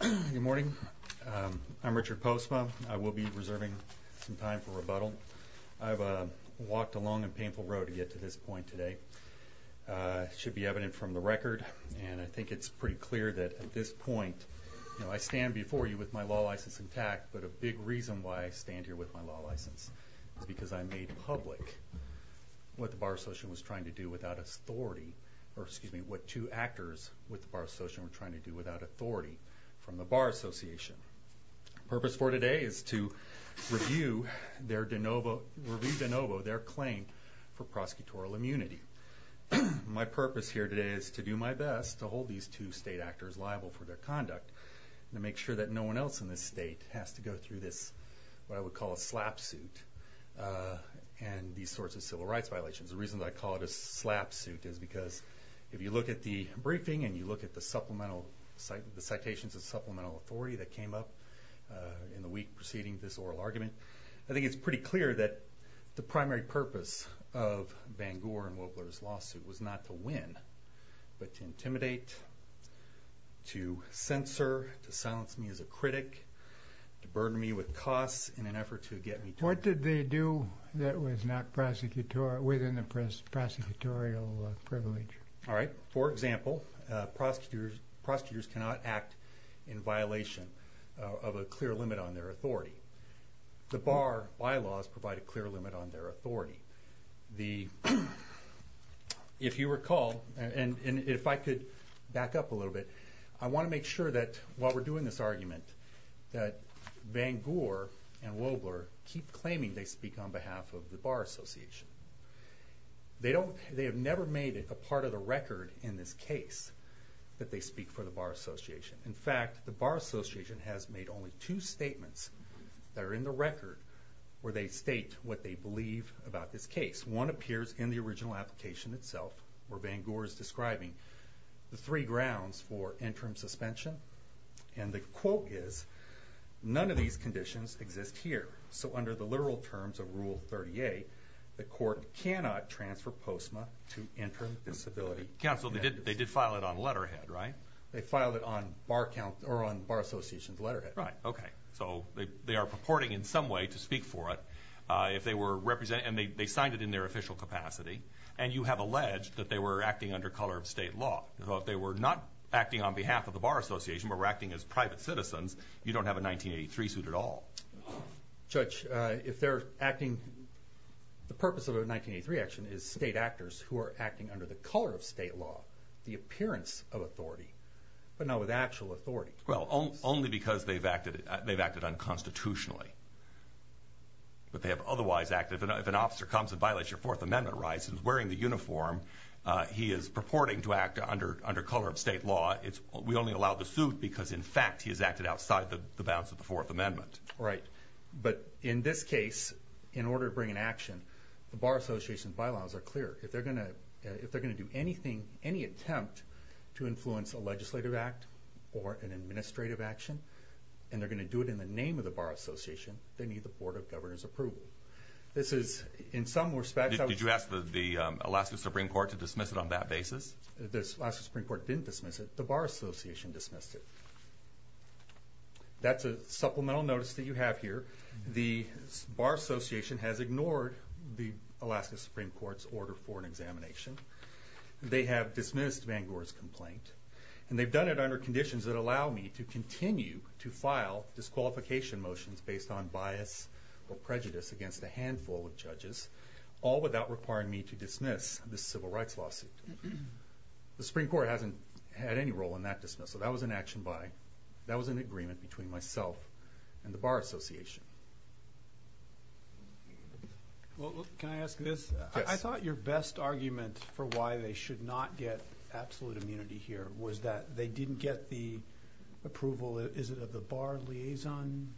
Good morning. I'm Richard Postma. I will be reserving some time for rebuttal. I've walked a long and painful road to get to this point today. It should be evident from the record, and I think it's pretty clear that at this point, you know, I stand before you with my law license intact, but a big reason why I stand here with my law license is because I made public what the Bar Association was trying to do without authority, or excuse me, what two actors with the Bar Association. The purpose for today is to review their denovo, review denovo, their claim for prosecutorial immunity. My purpose here today is to do my best to hold these two state actors liable for their conduct, to make sure that no one else in this state has to go through this, what I would call a slapsuit, and these sorts of civil rights violations. The reason I call it a slapsuit is because if you look at the briefing, and you look at the supplemental, the citations of supplemental authority that came up in the week preceding this oral argument, I think it's pretty clear that the primary purpose of Bangor and Wobler's lawsuit was not to win, but to intimidate, to censor, to silence me as a critic, to burden me with costs in an effort to get me to... What did they do that was not within the prosecutorial privilege? Alright, for example, prosecutors cannot act in violation of a clear limit on their authority. The Bar bylaws provide a clear limit on their authority. If you recall, and if I could back up a little bit, I want to make sure that while we're doing this argument that the Bar Association, they have never made it a part of the record in this case that they speak for the Bar Association. In fact, the Bar Association has made only two statements that are in the record where they state what they believe about this case. One appears in the original application itself, where Bangor is describing the three grounds for interim suspension, and the quote is, none of these conditions exist here. So under the literal terms of Rule 38, the court cannot transfer POSMA to interim disability. Counsel, they did file it on letterhead, right? They filed it on Bar Association's letterhead. Right, okay. So they are purporting in some way to speak for it. If they were representing... And they signed it in their official capacity, and you have alleged that they were acting under color of state law. So if they were not acting on behalf of the Bar Association, but were acting as private citizens, you don't have a 1983 suit at all. Judge, if they're acting... The purpose of a 1983 action is state actors who are acting under the color of state law, the appearance of authority, but not with actual authority. Well, only because they've acted unconstitutionally. But they have otherwise acted... If an officer comes and violates your Fourth Amendment rights and is wearing the uniform, he is purporting to act under color of state law. We only allow the suit because, in fact, he has acted outside the bounds of the Fourth Amendment. Right. But in this case, in order to bring an action, the Bar Association's bylaws are clear. If they're gonna do anything, any attempt to influence a legislative act or an administrative action, and they're gonna do it in the name of the Bar Association, they need the Board of Governors' approval. This is, in some respects... Did you ask the Alaska Supreme Court to dismiss it on that basis? The Alaska Supreme Court didn't dismiss it. The Bar Association dismissed it. That's a supplemental notice that you have here. The Bar Association has ignored the Alaska Supreme Court's order for an examination. They have dismissed Van Goor's complaint, and they've done it under conditions that allow me to continue to file disqualification motions based on bias or prejudice against a handful of judges, all without requiring me to dismiss this civil rights lawsuit. The Supreme Court hasn't had any role in that dismissal. That was an action by... That was an agreement between myself and the Bar Association. Can I ask this? Yes. I thought your best argument for why they should not get absolute immunity here was that they didn't get the approval... Is it of the Bar Liaison?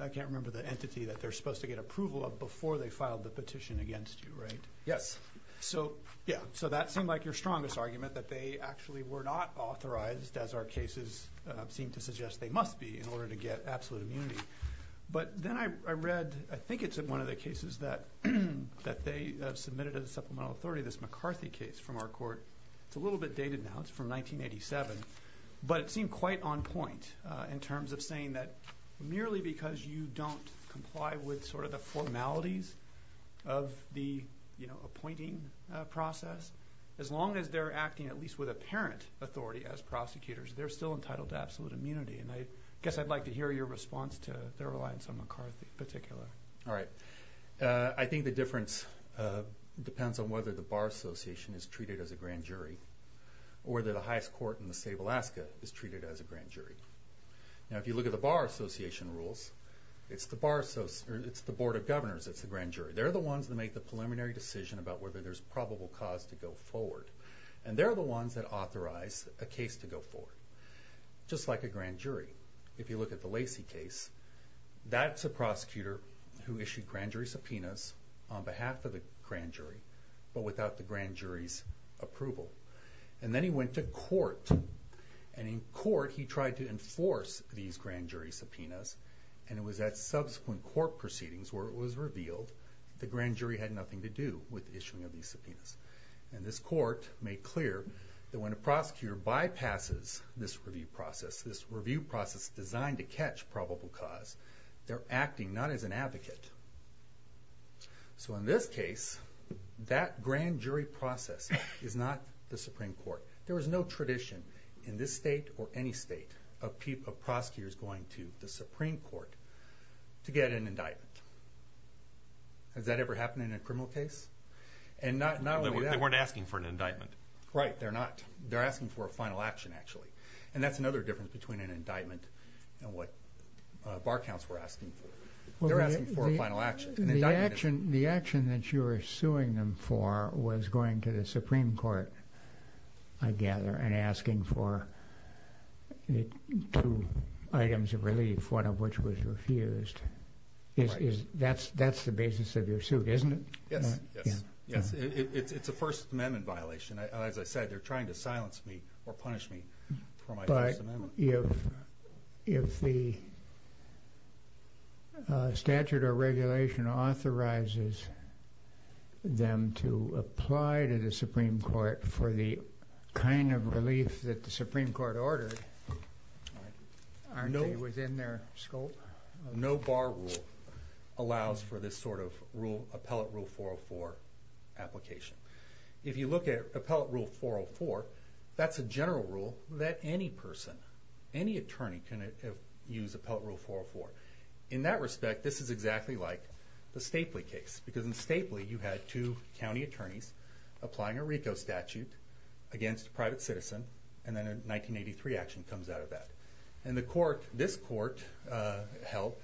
I can't remember the entity that they're supposed to get approval of before they filed the petition against you, right? Yes. So that seemed like your strongest argument, that they actually were not authorized, as our cases seem to suggest they must be in order to get absolute immunity. But then I read, I think it's one of the cases that they submitted as a supplemental authority, this McCarthy case from our court. It's a little bit dated now, it's from 1987, but it seemed quite on point in terms of saying that merely because you don't comply with the formalities of the appointing process, as long as they're acting at least with apparent authority as prosecutors, they're still entitled to absolute immunity. And I guess I'd like to hear your response to their reliance on McCarthy in particular. Alright. I think the difference depends on whether the Bar Association is treated as a grand jury, or whether the highest court in the state of Alaska is treated as a grand jury. Now, if you look at the Bar Association rules, it's the Bar... It's the Board of Governors that's the grand jury. They're the ones that make the preliminary decision about whether there's probable cause to go forward. And they're the ones that authorize a case to go forward, just like a grand jury. If you look at the Lacey case, that's a prosecutor who issued grand jury subpoenas on behalf of the grand jury, but without the grand jury's approval. And then he went to court, and in court he tried to enforce these grand jury subpoenas, and it was at subsequent court proceedings where it was revealed the grand jury had nothing to do with the issuing of these subpoenas. And this court made clear that when a prosecutor bypasses this review process, this review process designed to catch probable cause, they're acting not as an advocate. So in this case, that grand jury process is not the Supreme Court. There is no tradition in this state or any state of prosecutors going to the Supreme Court to get an indictment. Has that ever happened in a criminal case? And not only that... They weren't asking for an indictment. Right, they're not. They're asking for a final action, actually. And that's another difference between an indictment and what bar counts were asking for. They're asking for a final action. The action that you were suing them for was going to the Supreme Court for relief, one of which was refused. That's the basis of your suit, isn't it? Yes, yes. It's a First Amendment violation. As I said, they're trying to silence me or punish me for my First Amendment. But if the statute or regulation authorizes them to apply to the Supreme Court for the kind of relief that the Supreme Court is asking for, is that in their scope? No bar rule allows for this sort of rule, Appellate Rule 404 application. If you look at Appellate Rule 404, that's a general rule that any person, any attorney, can use Appellate Rule 404. In that respect, this is exactly like the Stapley case. Because in Stapley, you had two county attorneys applying a RICO statute against a private citizen, and then a 1983 action comes out of that. And this court held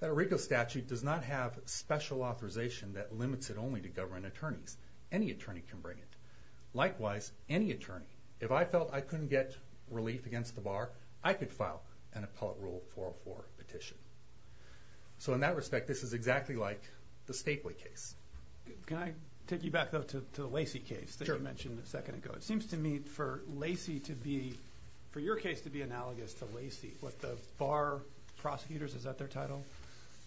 that a RICO statute does not have special authorization that limits it only to government attorneys. Any attorney can bring it. Likewise, any attorney, if I felt I couldn't get relief against the bar, I could file an Appellate Rule 404 petition. So in that respect, this is exactly like the Stapley case. Can I take you back, though, to the Lacey case that you mentioned a little while ago, I guess, to Lacey, with the bar prosecutors, is that their title?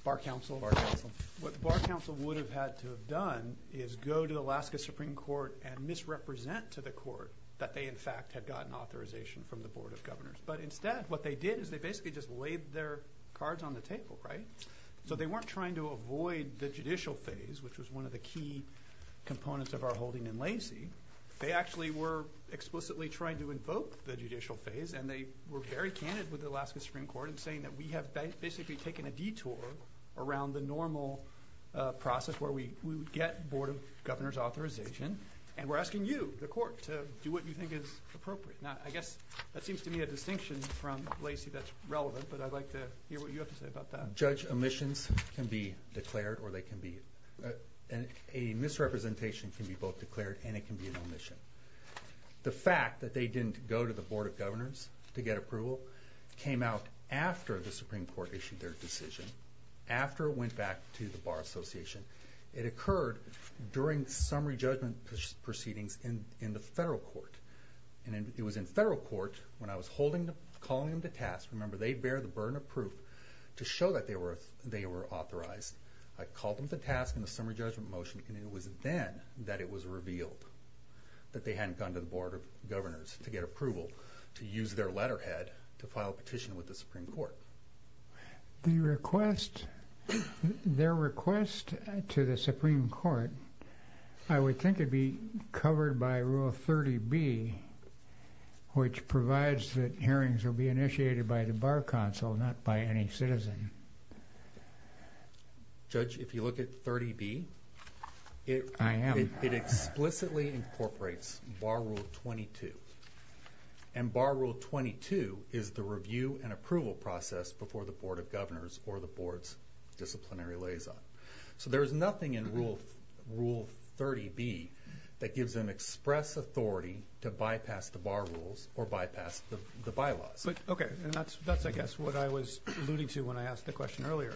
Bar counsel. Bar counsel. What the bar counsel would have had to have done is go to the Alaska Supreme Court and misrepresent to the court that they, in fact, had gotten authorization from the Board of Governors. But instead, what they did is they basically just laid their cards on the table, right? So they weren't trying to avoid the judicial phase, which was one of the key components of our holding in Lacey. They actually were explicitly trying to invoke the judicial phase, and they were very candid with the Alaska Supreme Court in saying that we have basically taken a detour around the normal process where we would get Board of Governors authorization, and we're asking you, the court, to do what you think is appropriate. Now, I guess that seems to me a distinction from Lacey that's relevant, but I'd like to hear what you have to say about that. Judge, omissions can be declared or they can be... A misrepresentation can be both declared and it can be an omission. The fact that they didn't go to the Board of Governors to get approval came out after the Supreme Court issued their decision, after it went back to the Bar Association. It occurred during summary judgment proceedings in the federal court. And it was in federal court when I was calling them to task. Remember, they bear the burden of proof to show that they were authorized. I called them to task in the summary judgment motion, and it was then that it was revealed that they hadn't gone to the Board of Governors to get approval to use their letterhead to file a petition with the Supreme Court. Their request to the Supreme Court, I would think it'd be covered by Rule 30B, which provides that hearings will be initiated by the Bar Council, not by any citizen. Judge, if you look at 30B... I am. It explicitly incorporates Bar Rule 22. And Bar Rule 22 is the review and approval process before the Board of Governors or the Board's disciplinary liaison. So there's nothing in Rule 30B that gives them express authority to bypass the Bar Rules or bypass the bylaws. Okay. And that's, I guess, what I was alluding to when I asked the question earlier.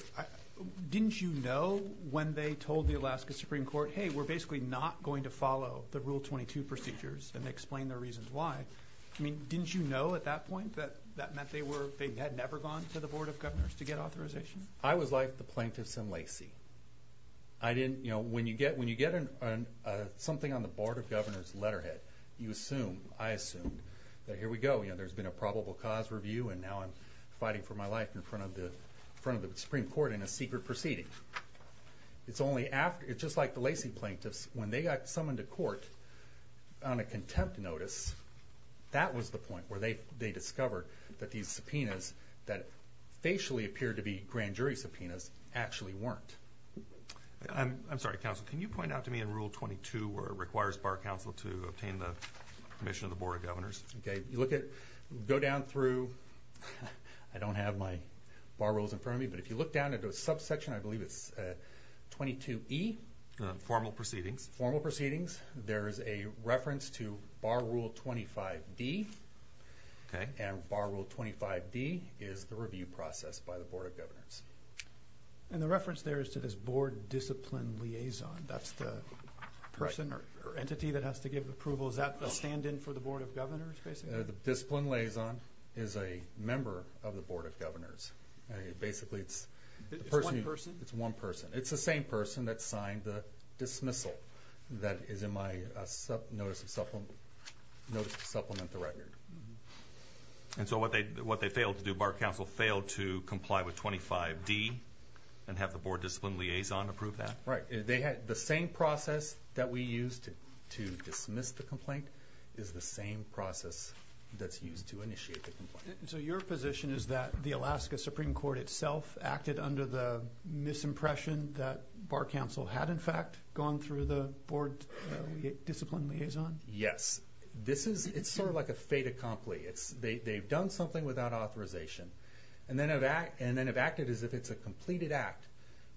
Didn't you know when they told the Alaska Supreme Court, hey, we're basically not going to follow the Rule 22 procedures, and they explained their reasons why. Didn't you know at that point that that meant they had never gone to the Board of Governors to get authorization? I was like the plaintiffs in Lacey. When you get something on the Board of Governors letterhead, you assume, I assumed, that here we go. There's been a probable cause review, and now I'm fighting for my life in front of the Supreme Court in a secret proceeding. It's only after... It's just like the Lacey plaintiffs. When they got summoned to court on a contempt notice, that was the point where they discovered that these subpoenas that facially appeared to be grand jury subpoenas actually weren't. I'm sorry, counsel. Can you point out to me in Rule 22 where it requires Bar Council to obtain the permission of the Board of Governors? Okay. Go down through... I don't have my bar rules in front of me, but if you look down into a subsection, I believe it's 22E. Formal proceedings. Formal proceedings. There is a reference to Bar Rule 25D. Okay. And Bar Rule 25D is the review process by the Board of Governors. And the reference there is to this Board Discipline Liaison. That's the person or entity that has to give approval. Is that a stand in for the Board of Governors, basically? The Discipline Liaison is a member of the Board of Governors. Basically, it's the person... It's one person? It's one person. It's the same person that signed the dismissal that is in my notice to supplement the record. And so what they failed to do, Bar Council failed to comply with 25D and have the Board Discipline Liaison approve that? Right. They had... The same process that we used to dismiss the complaint is the same process that's used to initiate the complaint. So your position is that the Alaska Supreme Court itself acted under the misimpression that Bar Council had, in fact, gone through the Board Discipline Liaison? Yes. It's sort of like a fait accompli. They've done something without authorization and then have acted as if it's a completed act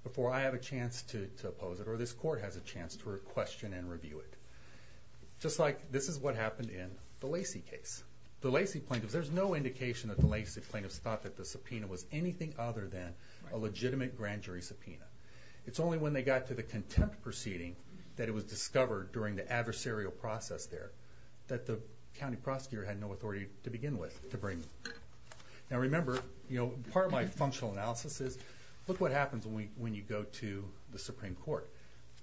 before I have a chance to oppose it or this court has a chance to question and review it. Just like this is what happened in the Lacy case. The Lacy plaintiffs... There's no indication that the Lacy plaintiffs thought that the subpoena was anything other than a legitimate grand jury subpoena. It's only when they got to the contempt proceeding that it was discovered during the adversarial process there that the county prosecutor had no authority to begin with to bring... Now remember, part of my functional analysis is, look what happens when you go to the Supreme Court.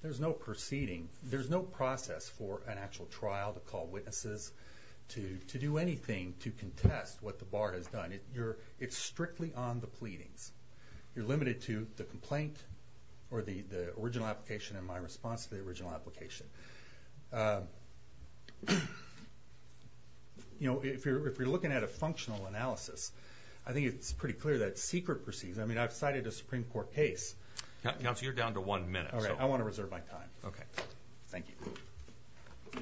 There's no proceeding, there's no process for an actual trial to call witnesses, to do anything to contest what the bar has done. It's strictly on the pleadings. You're limited to the complaint or the original application and my response to the original application. If you're looking at a functional analysis, I think it's pretty clear that secret proceedings... I've cited a Supreme Court case... Counselor, you're down to one minute. Alright, I wanna reserve my time. Okay. Thank you.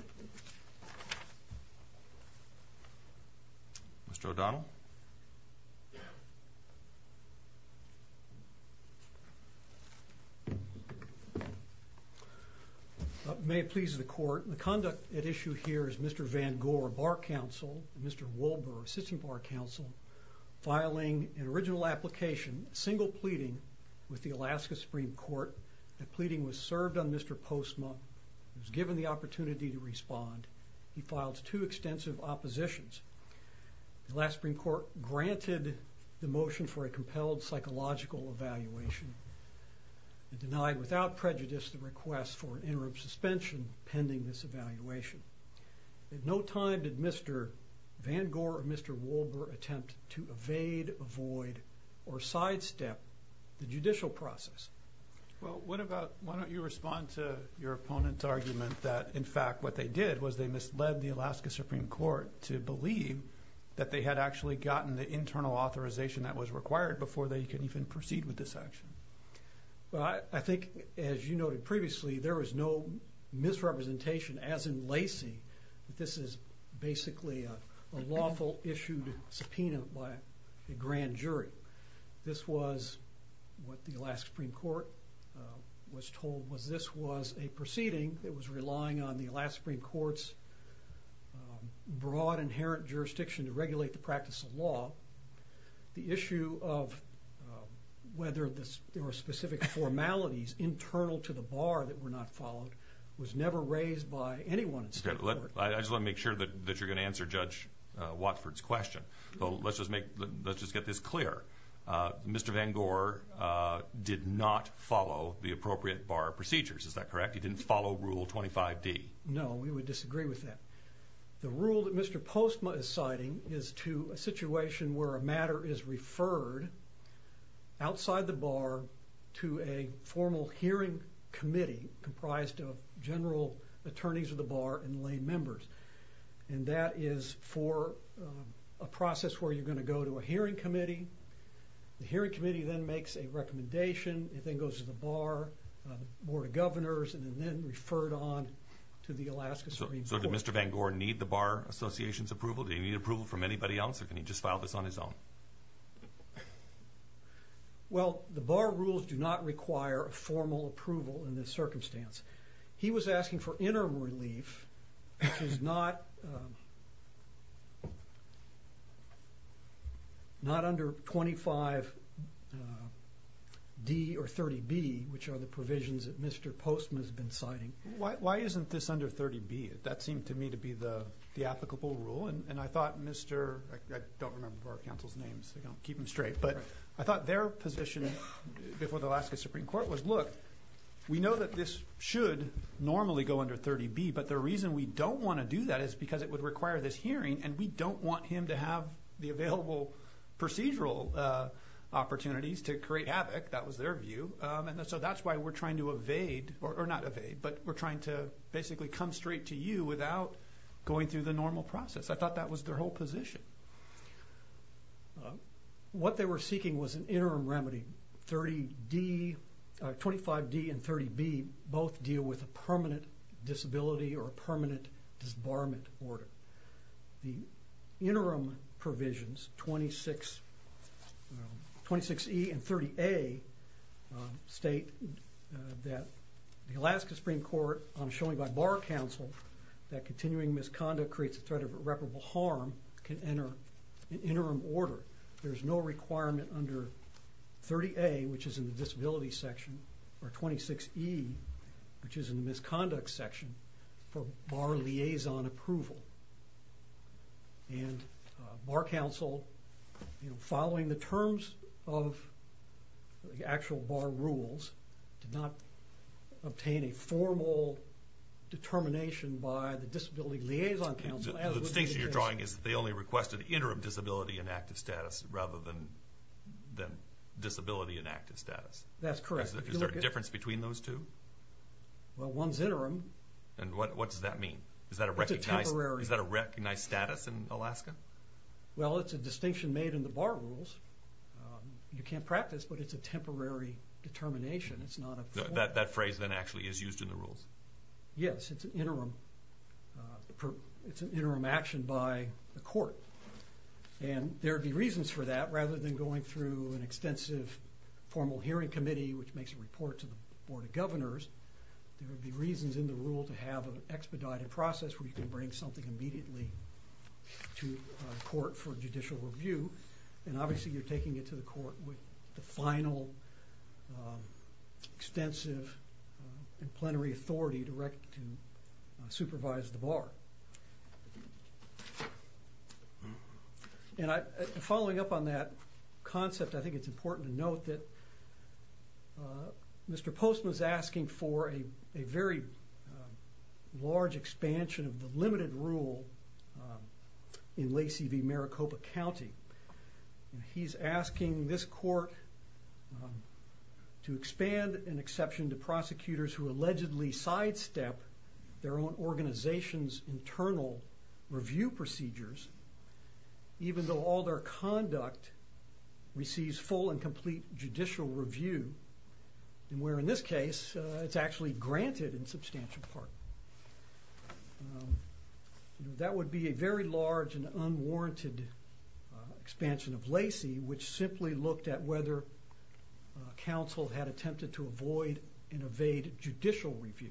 Mr. O'Donnell. May it please the court, the conduct at issue here is Mr. Van Gore, Bar Counsel, and Mr. Wolber, Assistant Bar Counsel, filing an original application, a single pleading, with the Alaska Supreme Court. The pleading was served on Mr. Postma, who was given the opportunity to respond. He filed two extensive oppositions. The Alaska Supreme Court granted the motion for a compelled psychological evaluation and denied without prejudice the request for an interim suspension pending this evaluation. At no time did Mr. Van Gore or Mr. Postma attempt to evade, avoid, or sidestep the judicial process. Well, what about... Why don't you respond to your opponent's argument that, in fact, what they did was they misled the Alaska Supreme Court to believe that they had actually gotten the internal authorization that was required before they could even proceed with this action. I think, as you noted previously, there was no misrepresentation, as in Lacey, that this is basically a lawful issued subpoena by a grand jury. This was what the Alaska Supreme Court was told was this was a proceeding that was relying on the Alaska Supreme Court's broad inherent jurisdiction to regulate the practice of law. The issue of whether there were specific formalities internal to the bar that were not followed was never raised by anyone in state court. I just wanna make sure that you're gonna answer Judge Watford's question. But let's just make... Let's just get this clear. Mr. Van Gore did not follow the appropriate bar procedures, is that correct? He didn't follow Rule 25D. No, we would disagree with that. The rule that Mr. Postma is citing is to a situation where a bar to a formal hearing committee comprised of general attorneys of the bar and lay members. And that is for a process where you're gonna go to a hearing committee. The hearing committee then makes a recommendation, it then goes to the bar, the Board of Governors, and then referred on to the Alaska Supreme Court. So did Mr. Van Gore need the Bar Association's approval? Did he need approval from anybody else or can he just file this on his own? Well, the bar rules do not require a formal approval in this circumstance. He was asking for interim relief, which is not under 25D or 30B, which are the provisions that Mr. Postma has been citing. Why isn't this under 30B? That seemed to me to be the applicable rule. And I thought Mr... I don't remember our counsel's names, so I'll keep them straight. But I thought their position before the Alaska Supreme Court was, look, we know that this should normally go under 30B, but the reason we don't wanna do that is because it would require this hearing and we don't want him to have the available procedural opportunities to create havoc. That was their view. And so that's why we're trying to evade... Or not evade, but we're trying to basically come straight to you without going through the normal process. I thought that was their whole position. What they were seeking was an interim remedy. 25D and 30B both deal with a permanent disability or a permanent disbarment order. The interim provisions, 26E and 30A, state that the Alaska Supreme Court, showing by bar counsel, that continuing misconduct creates a threat of irreparable harm, can enter an interim order. There's no requirement under 30A, which is in the disability section, or 26E, which is in the misconduct section, for bar liaison approval. And bar counsel, following the terms of the actual bar rules, did not obtain a formal determination by the Disability Liaison Council... The distinction you're drawing is they only requested interim disability and active status rather than disability and active status. That's correct. Is there a difference between those two? Well, one's interim. And what does that mean? Is that a recognized status in Alaska? Well, it's a distinction made in the bar rules. You can't practice, but it's a temporary determination. It's not a... That phrase, then, actually is used in the rules? Yes, it's an interim action by the court. And there would be reasons for that, rather than going through an extensive formal hearing committee, which makes a report to the Board of Governors, there would be reasons in the rule to have an expedited process where you can bring something immediately to court for judicial review. And obviously, you're taking it to the court with the final extensive and plenary authority direct to supervise the bar. And following up on that concept, I think it's important to note that Mr. Postman is asking for a very large expansion of the limited rule in Lacey v. Maricopa County. And he's asking this court to expand an exception to prosecutors who allegedly sidestep their own organization's internal review procedures, even though all their conduct receives full and complete judicial review. And where in this case, it's actually granted in substantial part. That would be a very large and unwarranted expansion of Lacey, which simply looked at whether counsel had attempted to avoid and evade judicial review.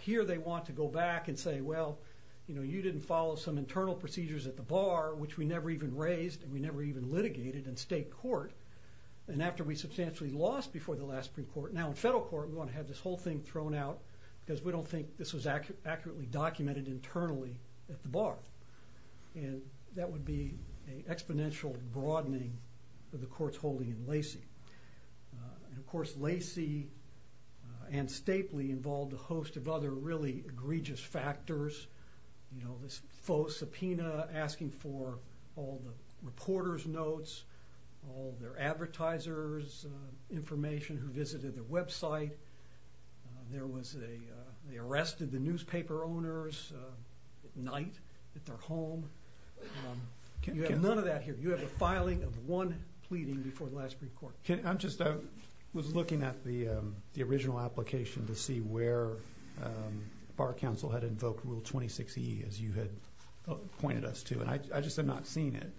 Here, they want to go back and say, well, you didn't follow some internal procedures at the bar, which we never even raised, and we never even litigated in state court. And after we substantially lost before the last Supreme Court, now in federal court, we want to have this whole thing thrown out because we don't think this was accurately documented internally at the bar. And that would be an exponential broadening of the court's holding in Lacey. And of course, Lacey and Stapley involved a host of other really egregious factors. This faux subpoena, asking for all the reporter's notes, all their advertisers' information, who was there that night. They arrested the newspaper owners at night at their home. You have none of that here. You have a filing of one pleading before the last Supreme Court. I was looking at the original application to see where Bar Counsel had invoked Rule 26E, as you had pointed us to, and I just have not seen it.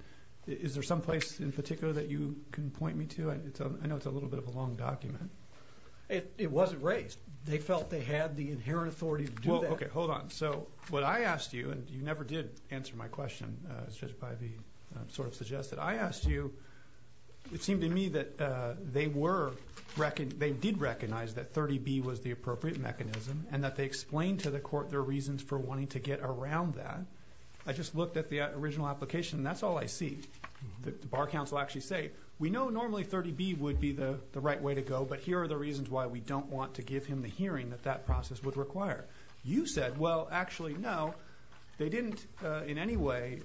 Is there some place in particular that you can point me to? I know it's a little bit of a long document. It wasn't raised. They felt they had the inherent authority to do that. Okay, hold on. So what I asked you, and you never did answer my question, as Judge Pivey sort of suggested. I asked you, it seemed to me that they did recognize that 30B was the appropriate mechanism, and that they explained to the court their reasons for wanting to get around that. I just looked at the original application, and that's all I see. The Bar Counsel actually say, we know normally 30B would be the right way to go, but here are the reasons why we don't want to give him the hearing that that process would require. You said, well, actually, no, they didn't in any way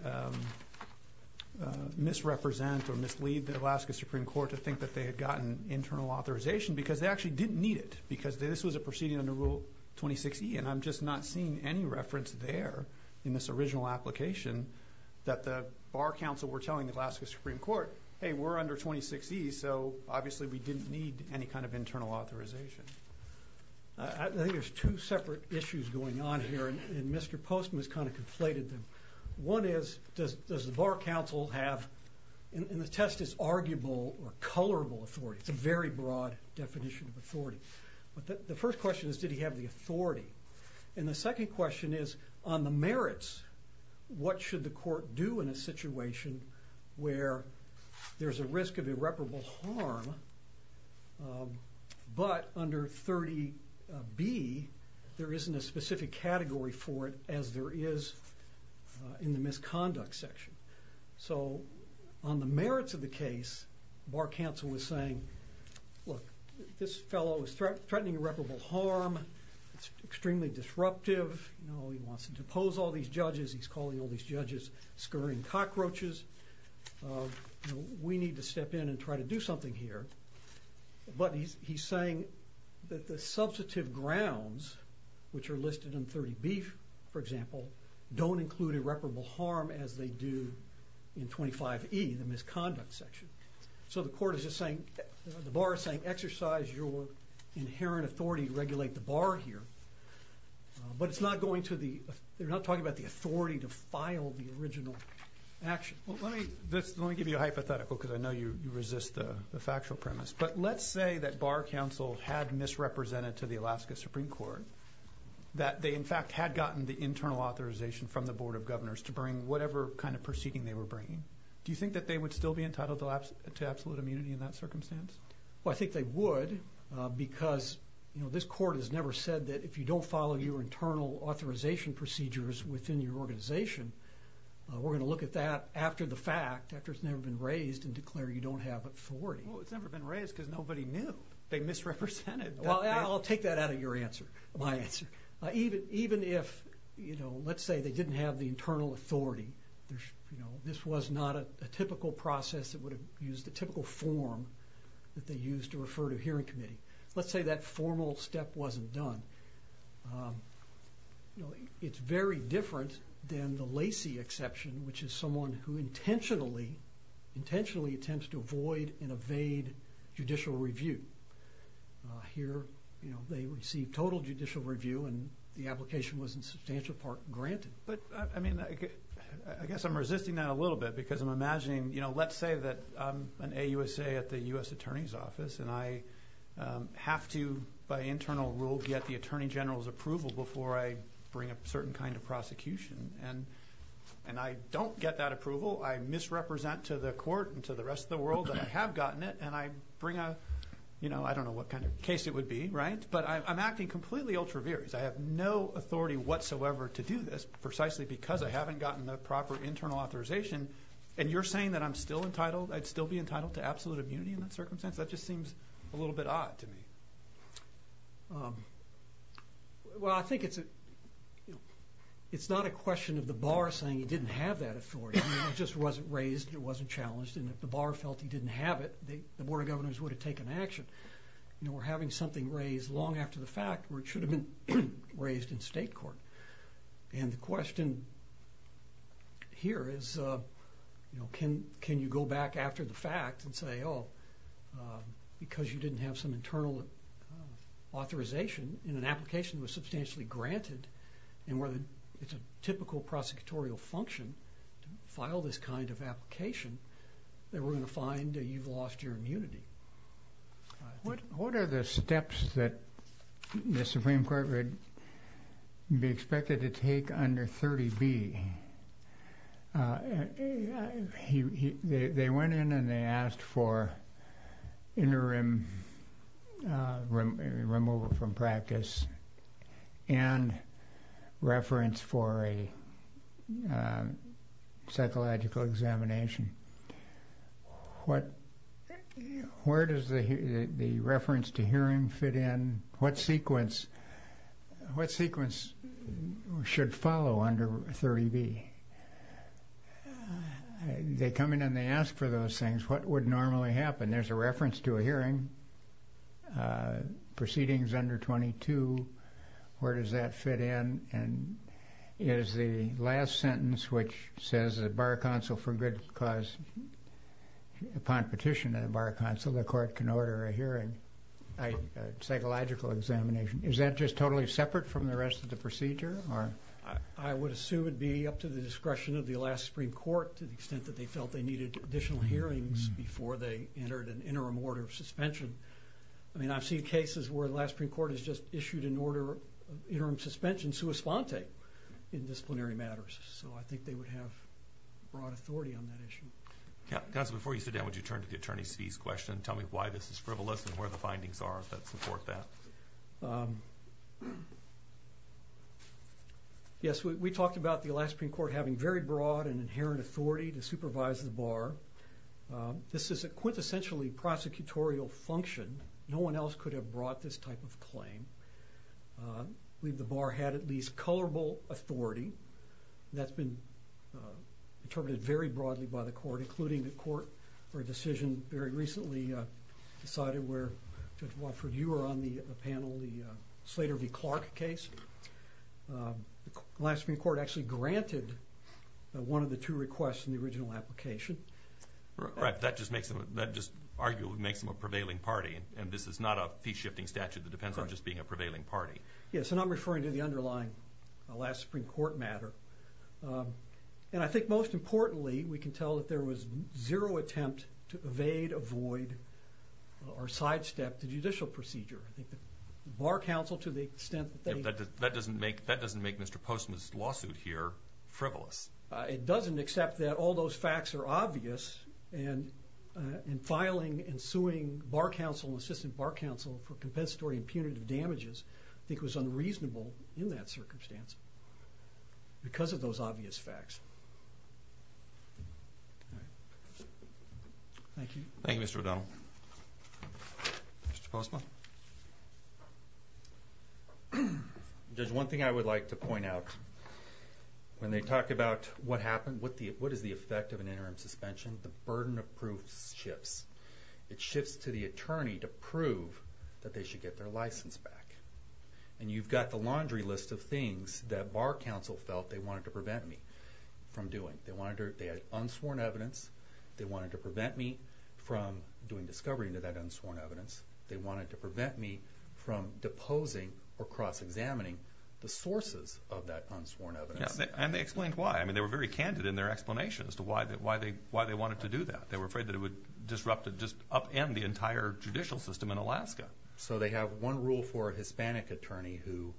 misrepresent or mislead the Alaska Supreme Court to think that they had gotten internal authorization, because they actually didn't need it, because this was a proceeding under Rule 26E, and I'm just not seeing any reference there in this original application that the Bar Counsel were telling the Alaska Supreme Court, hey, we're under 26E, so obviously we didn't need any kind of internal authorization. I think there's two separate issues going on here, and Mr. Postman has kind of conflated them. One is, does the Bar Counsel have, and the test is arguable or colorable authority. It's a very broad definition of authority. But the first question is, did he have the authority? And the second question is, on the merits, what should the court do in a situation where there's a risk of irreparable harm, but under 30B, there isn't a specific category for it as there is in the misconduct section. So on the merits of the case, Bar Counsel was saying, look, this fellow is threatening irreparable harm. It's extremely disruptive. He wants to depose all these judges. He's calling all these judges scurrying cockroaches. We need to step in and try to do something here. But he's saying that the substantive grounds, which are listed in 30B, for example, don't include irreparable harm as they do in 25E, the misconduct section. So the court is just saying, the Bar is saying, exercise your inherent authority to regulate the Bar here. But it's not going to the... They're not talking about the authority to file the original action. Well, let me... Let me give you a hypothetical because I know you resist the factual premise. But let's say that Bar Counsel had misrepresented to the Alaska Supreme Court, that they, in fact, had gotten the internal authorization from the Board of Governors to bring whatever kind of proceeding they were bringing. Do you think that they would still be entitled to absolute immunity in that because this court has never said that if you don't follow your internal authorization procedures within your organization, we're gonna look at that after the fact, after it's never been raised and declare you don't have authority? Well, it's never been raised because nobody knew. They misrepresented. Well, I'll take that out of your answer, my answer. Even if, let's say they didn't have the internal authority, this was not a typical process that would have used the typical form that they used to refer to a hearing committee. Let's say that formal step wasn't done. It's very different than the Lacey exception, which is someone who intentionally, intentionally attempts to avoid and evade judicial review. Here, they receive total judicial review and the application wasn't in substantial part granted. But I mean, I guess I'm resisting that a little bit because I'm imagining... Let's say that I'm an AUSA at the US Attorney's Office and I have to, by internal rule, get the Attorney General's approval before I bring a certain kind of prosecution. And I don't get that approval. I misrepresent to the court and to the rest of the world that I have gotten it and I bring a... I don't know what kind of case it would be, right? But I'm acting completely ultra vires. I have no authority whatsoever to do this precisely because I haven't gotten the proper internal authorization. And you're saying that I'm still entitled, I'd still be entitled to absolute immunity in that circumstance? That just seems a little bit odd to me. Well, I think it's a... It's not a question of the bar saying he didn't have that authority. I mean, it just wasn't raised, it wasn't challenged. And if the bar felt he didn't have it, the Board of Governors would have taken action. You know, we're having something raised long after the fact where it should have been raised in state court. And the question here is, can you go back after the fact and say, because you didn't have some internal authorization and an application was substantially granted, and whether it's a typical prosecutorial function to file this kind of application, that we're gonna find that you've lost your immunity. What are the steps that the Supreme Court would be expected to take under 30B? They went in and they asked for interim removal from practice and reference for a psychological examination. Where does the reference to hearing fit in? What sequence should follow under 30B? They come in and they ask for those things. What would normally happen? There's a reference to a hearing, proceedings under 22, where does that fit in? And is the last sentence, which says the bar counsel for good cause, upon petition of the bar counsel, the court can order a hearing, psychological examination. Is that just totally separate from the rest of the procedure? I would assume it'd be up to the discretion of the last Supreme Court, to the extent that they felt they needed additional hearings before they entered an interim order of suspension. I've seen cases where the last Supreme Court has just issued an order of interim suspension sua sponte in disciplinary matters, so I think they would have broad authority on that issue. Counsel, before you sit down, would you turn to the attorney's fees question and tell me why this is frivolous and where the findings are that support that? Yes, we talked about the last Supreme Court having very broad and inherent authority to supervise the bar. This is a quintessentially prosecutorial function. No one else could have brought this type of claim. I believe the bar had at least colorable authority. That's been interpreted very broadly by the court, including the court for a decision very recently decided where, Judge Wofford, you were on the panel, the Slater v. Clark case. The last Supreme Court actually granted one of the two requests in the original application. Right, that just makes them... That just arguably makes them a prevailing party, and this is not a fee shifting statute that depends on just being a prevailing party. Yes, and I'm referring to the underlying last Supreme Court matter. And I think most importantly, we can tell that there was zero attempt to evade, avoid, or sidestep the judicial procedure. I think the bar counsel, to the extent that they... That doesn't make Mr. Postma's lawsuit here frivolous. It doesn't, except that all those facts are obvious, and filing and suing bar counsel and assistant bar counsel for compensatory and punitive damages, I think was unreasonable in that circumstance because of those obvious facts. Thank you. Thank you, Mr. O'Donnell. Mr. Postma? There's one thing I would like to point out. When they talk about what happened, what is the effect of an interim suspension, the burden of proof shifts. It shifts to the attorney to prove that they should get their license back. And you've got the laundry list of things that bar counsel felt they wanted to prevent me from doing. They had unsworn evidence. They wanted to prevent me from doing discovery into that unsworn evidence. They wanted to prevent me from deposing or cross examining the sources of that unsworn evidence. And they explained why. They were very candid in their explanation as to why they wanted to do that. They were afraid that it would disrupt and just upend the entire judicial system in Alaska. So they have one rule for a Hispanic attorney who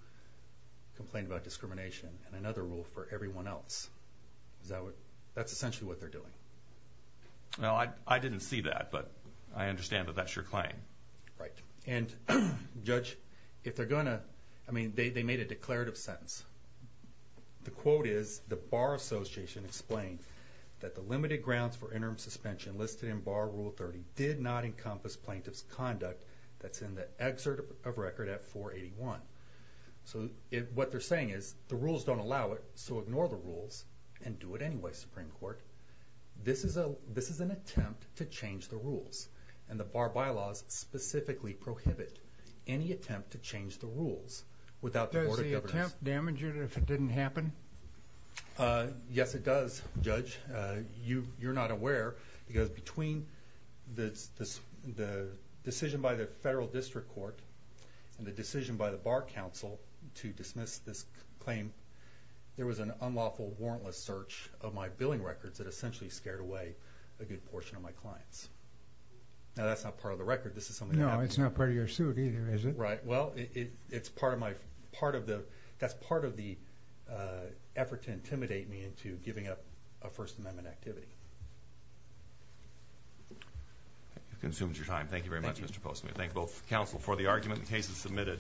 complained about discrimination, and another rule for everyone else. That's essentially what they're doing. Well, I didn't see that, but I understand that that's your claim. Right. And judge, if they're gonna... I mean, they made a declarative sentence. The quote is, the Bar Association explained that the limited grounds for interim suspension listed in Bar Rule 30 did not encompass plaintiff's conduct that's in the excerpt of record at 481. So what they're saying is, the rules don't allow it, so ignore the rules and do it anyway, Supreme Court. This is an attempt to change the rules. And the Bar Bylaws specifically prohibit any attempt to change the rules without the Board of Governors... Does the attempt damage it if it didn't happen? Yes, it does, judge. You're not aware, because between the decision by the Federal District Court and the decision by the Bar Council to dismiss this claim, there was an unlawful warrantless search of my billing records that essentially scared away a good portion of my clients. Now, that's not part of the record. This is something that happened... No, it's not part of your suit either, is it? Right. Well, it's part of my... That's part of the effort to intimidate me into giving up a First Amendment activity. You've consumed your time. Thank you very much, Mr. Postman. Thank both counsel for the argument. The case is submitted.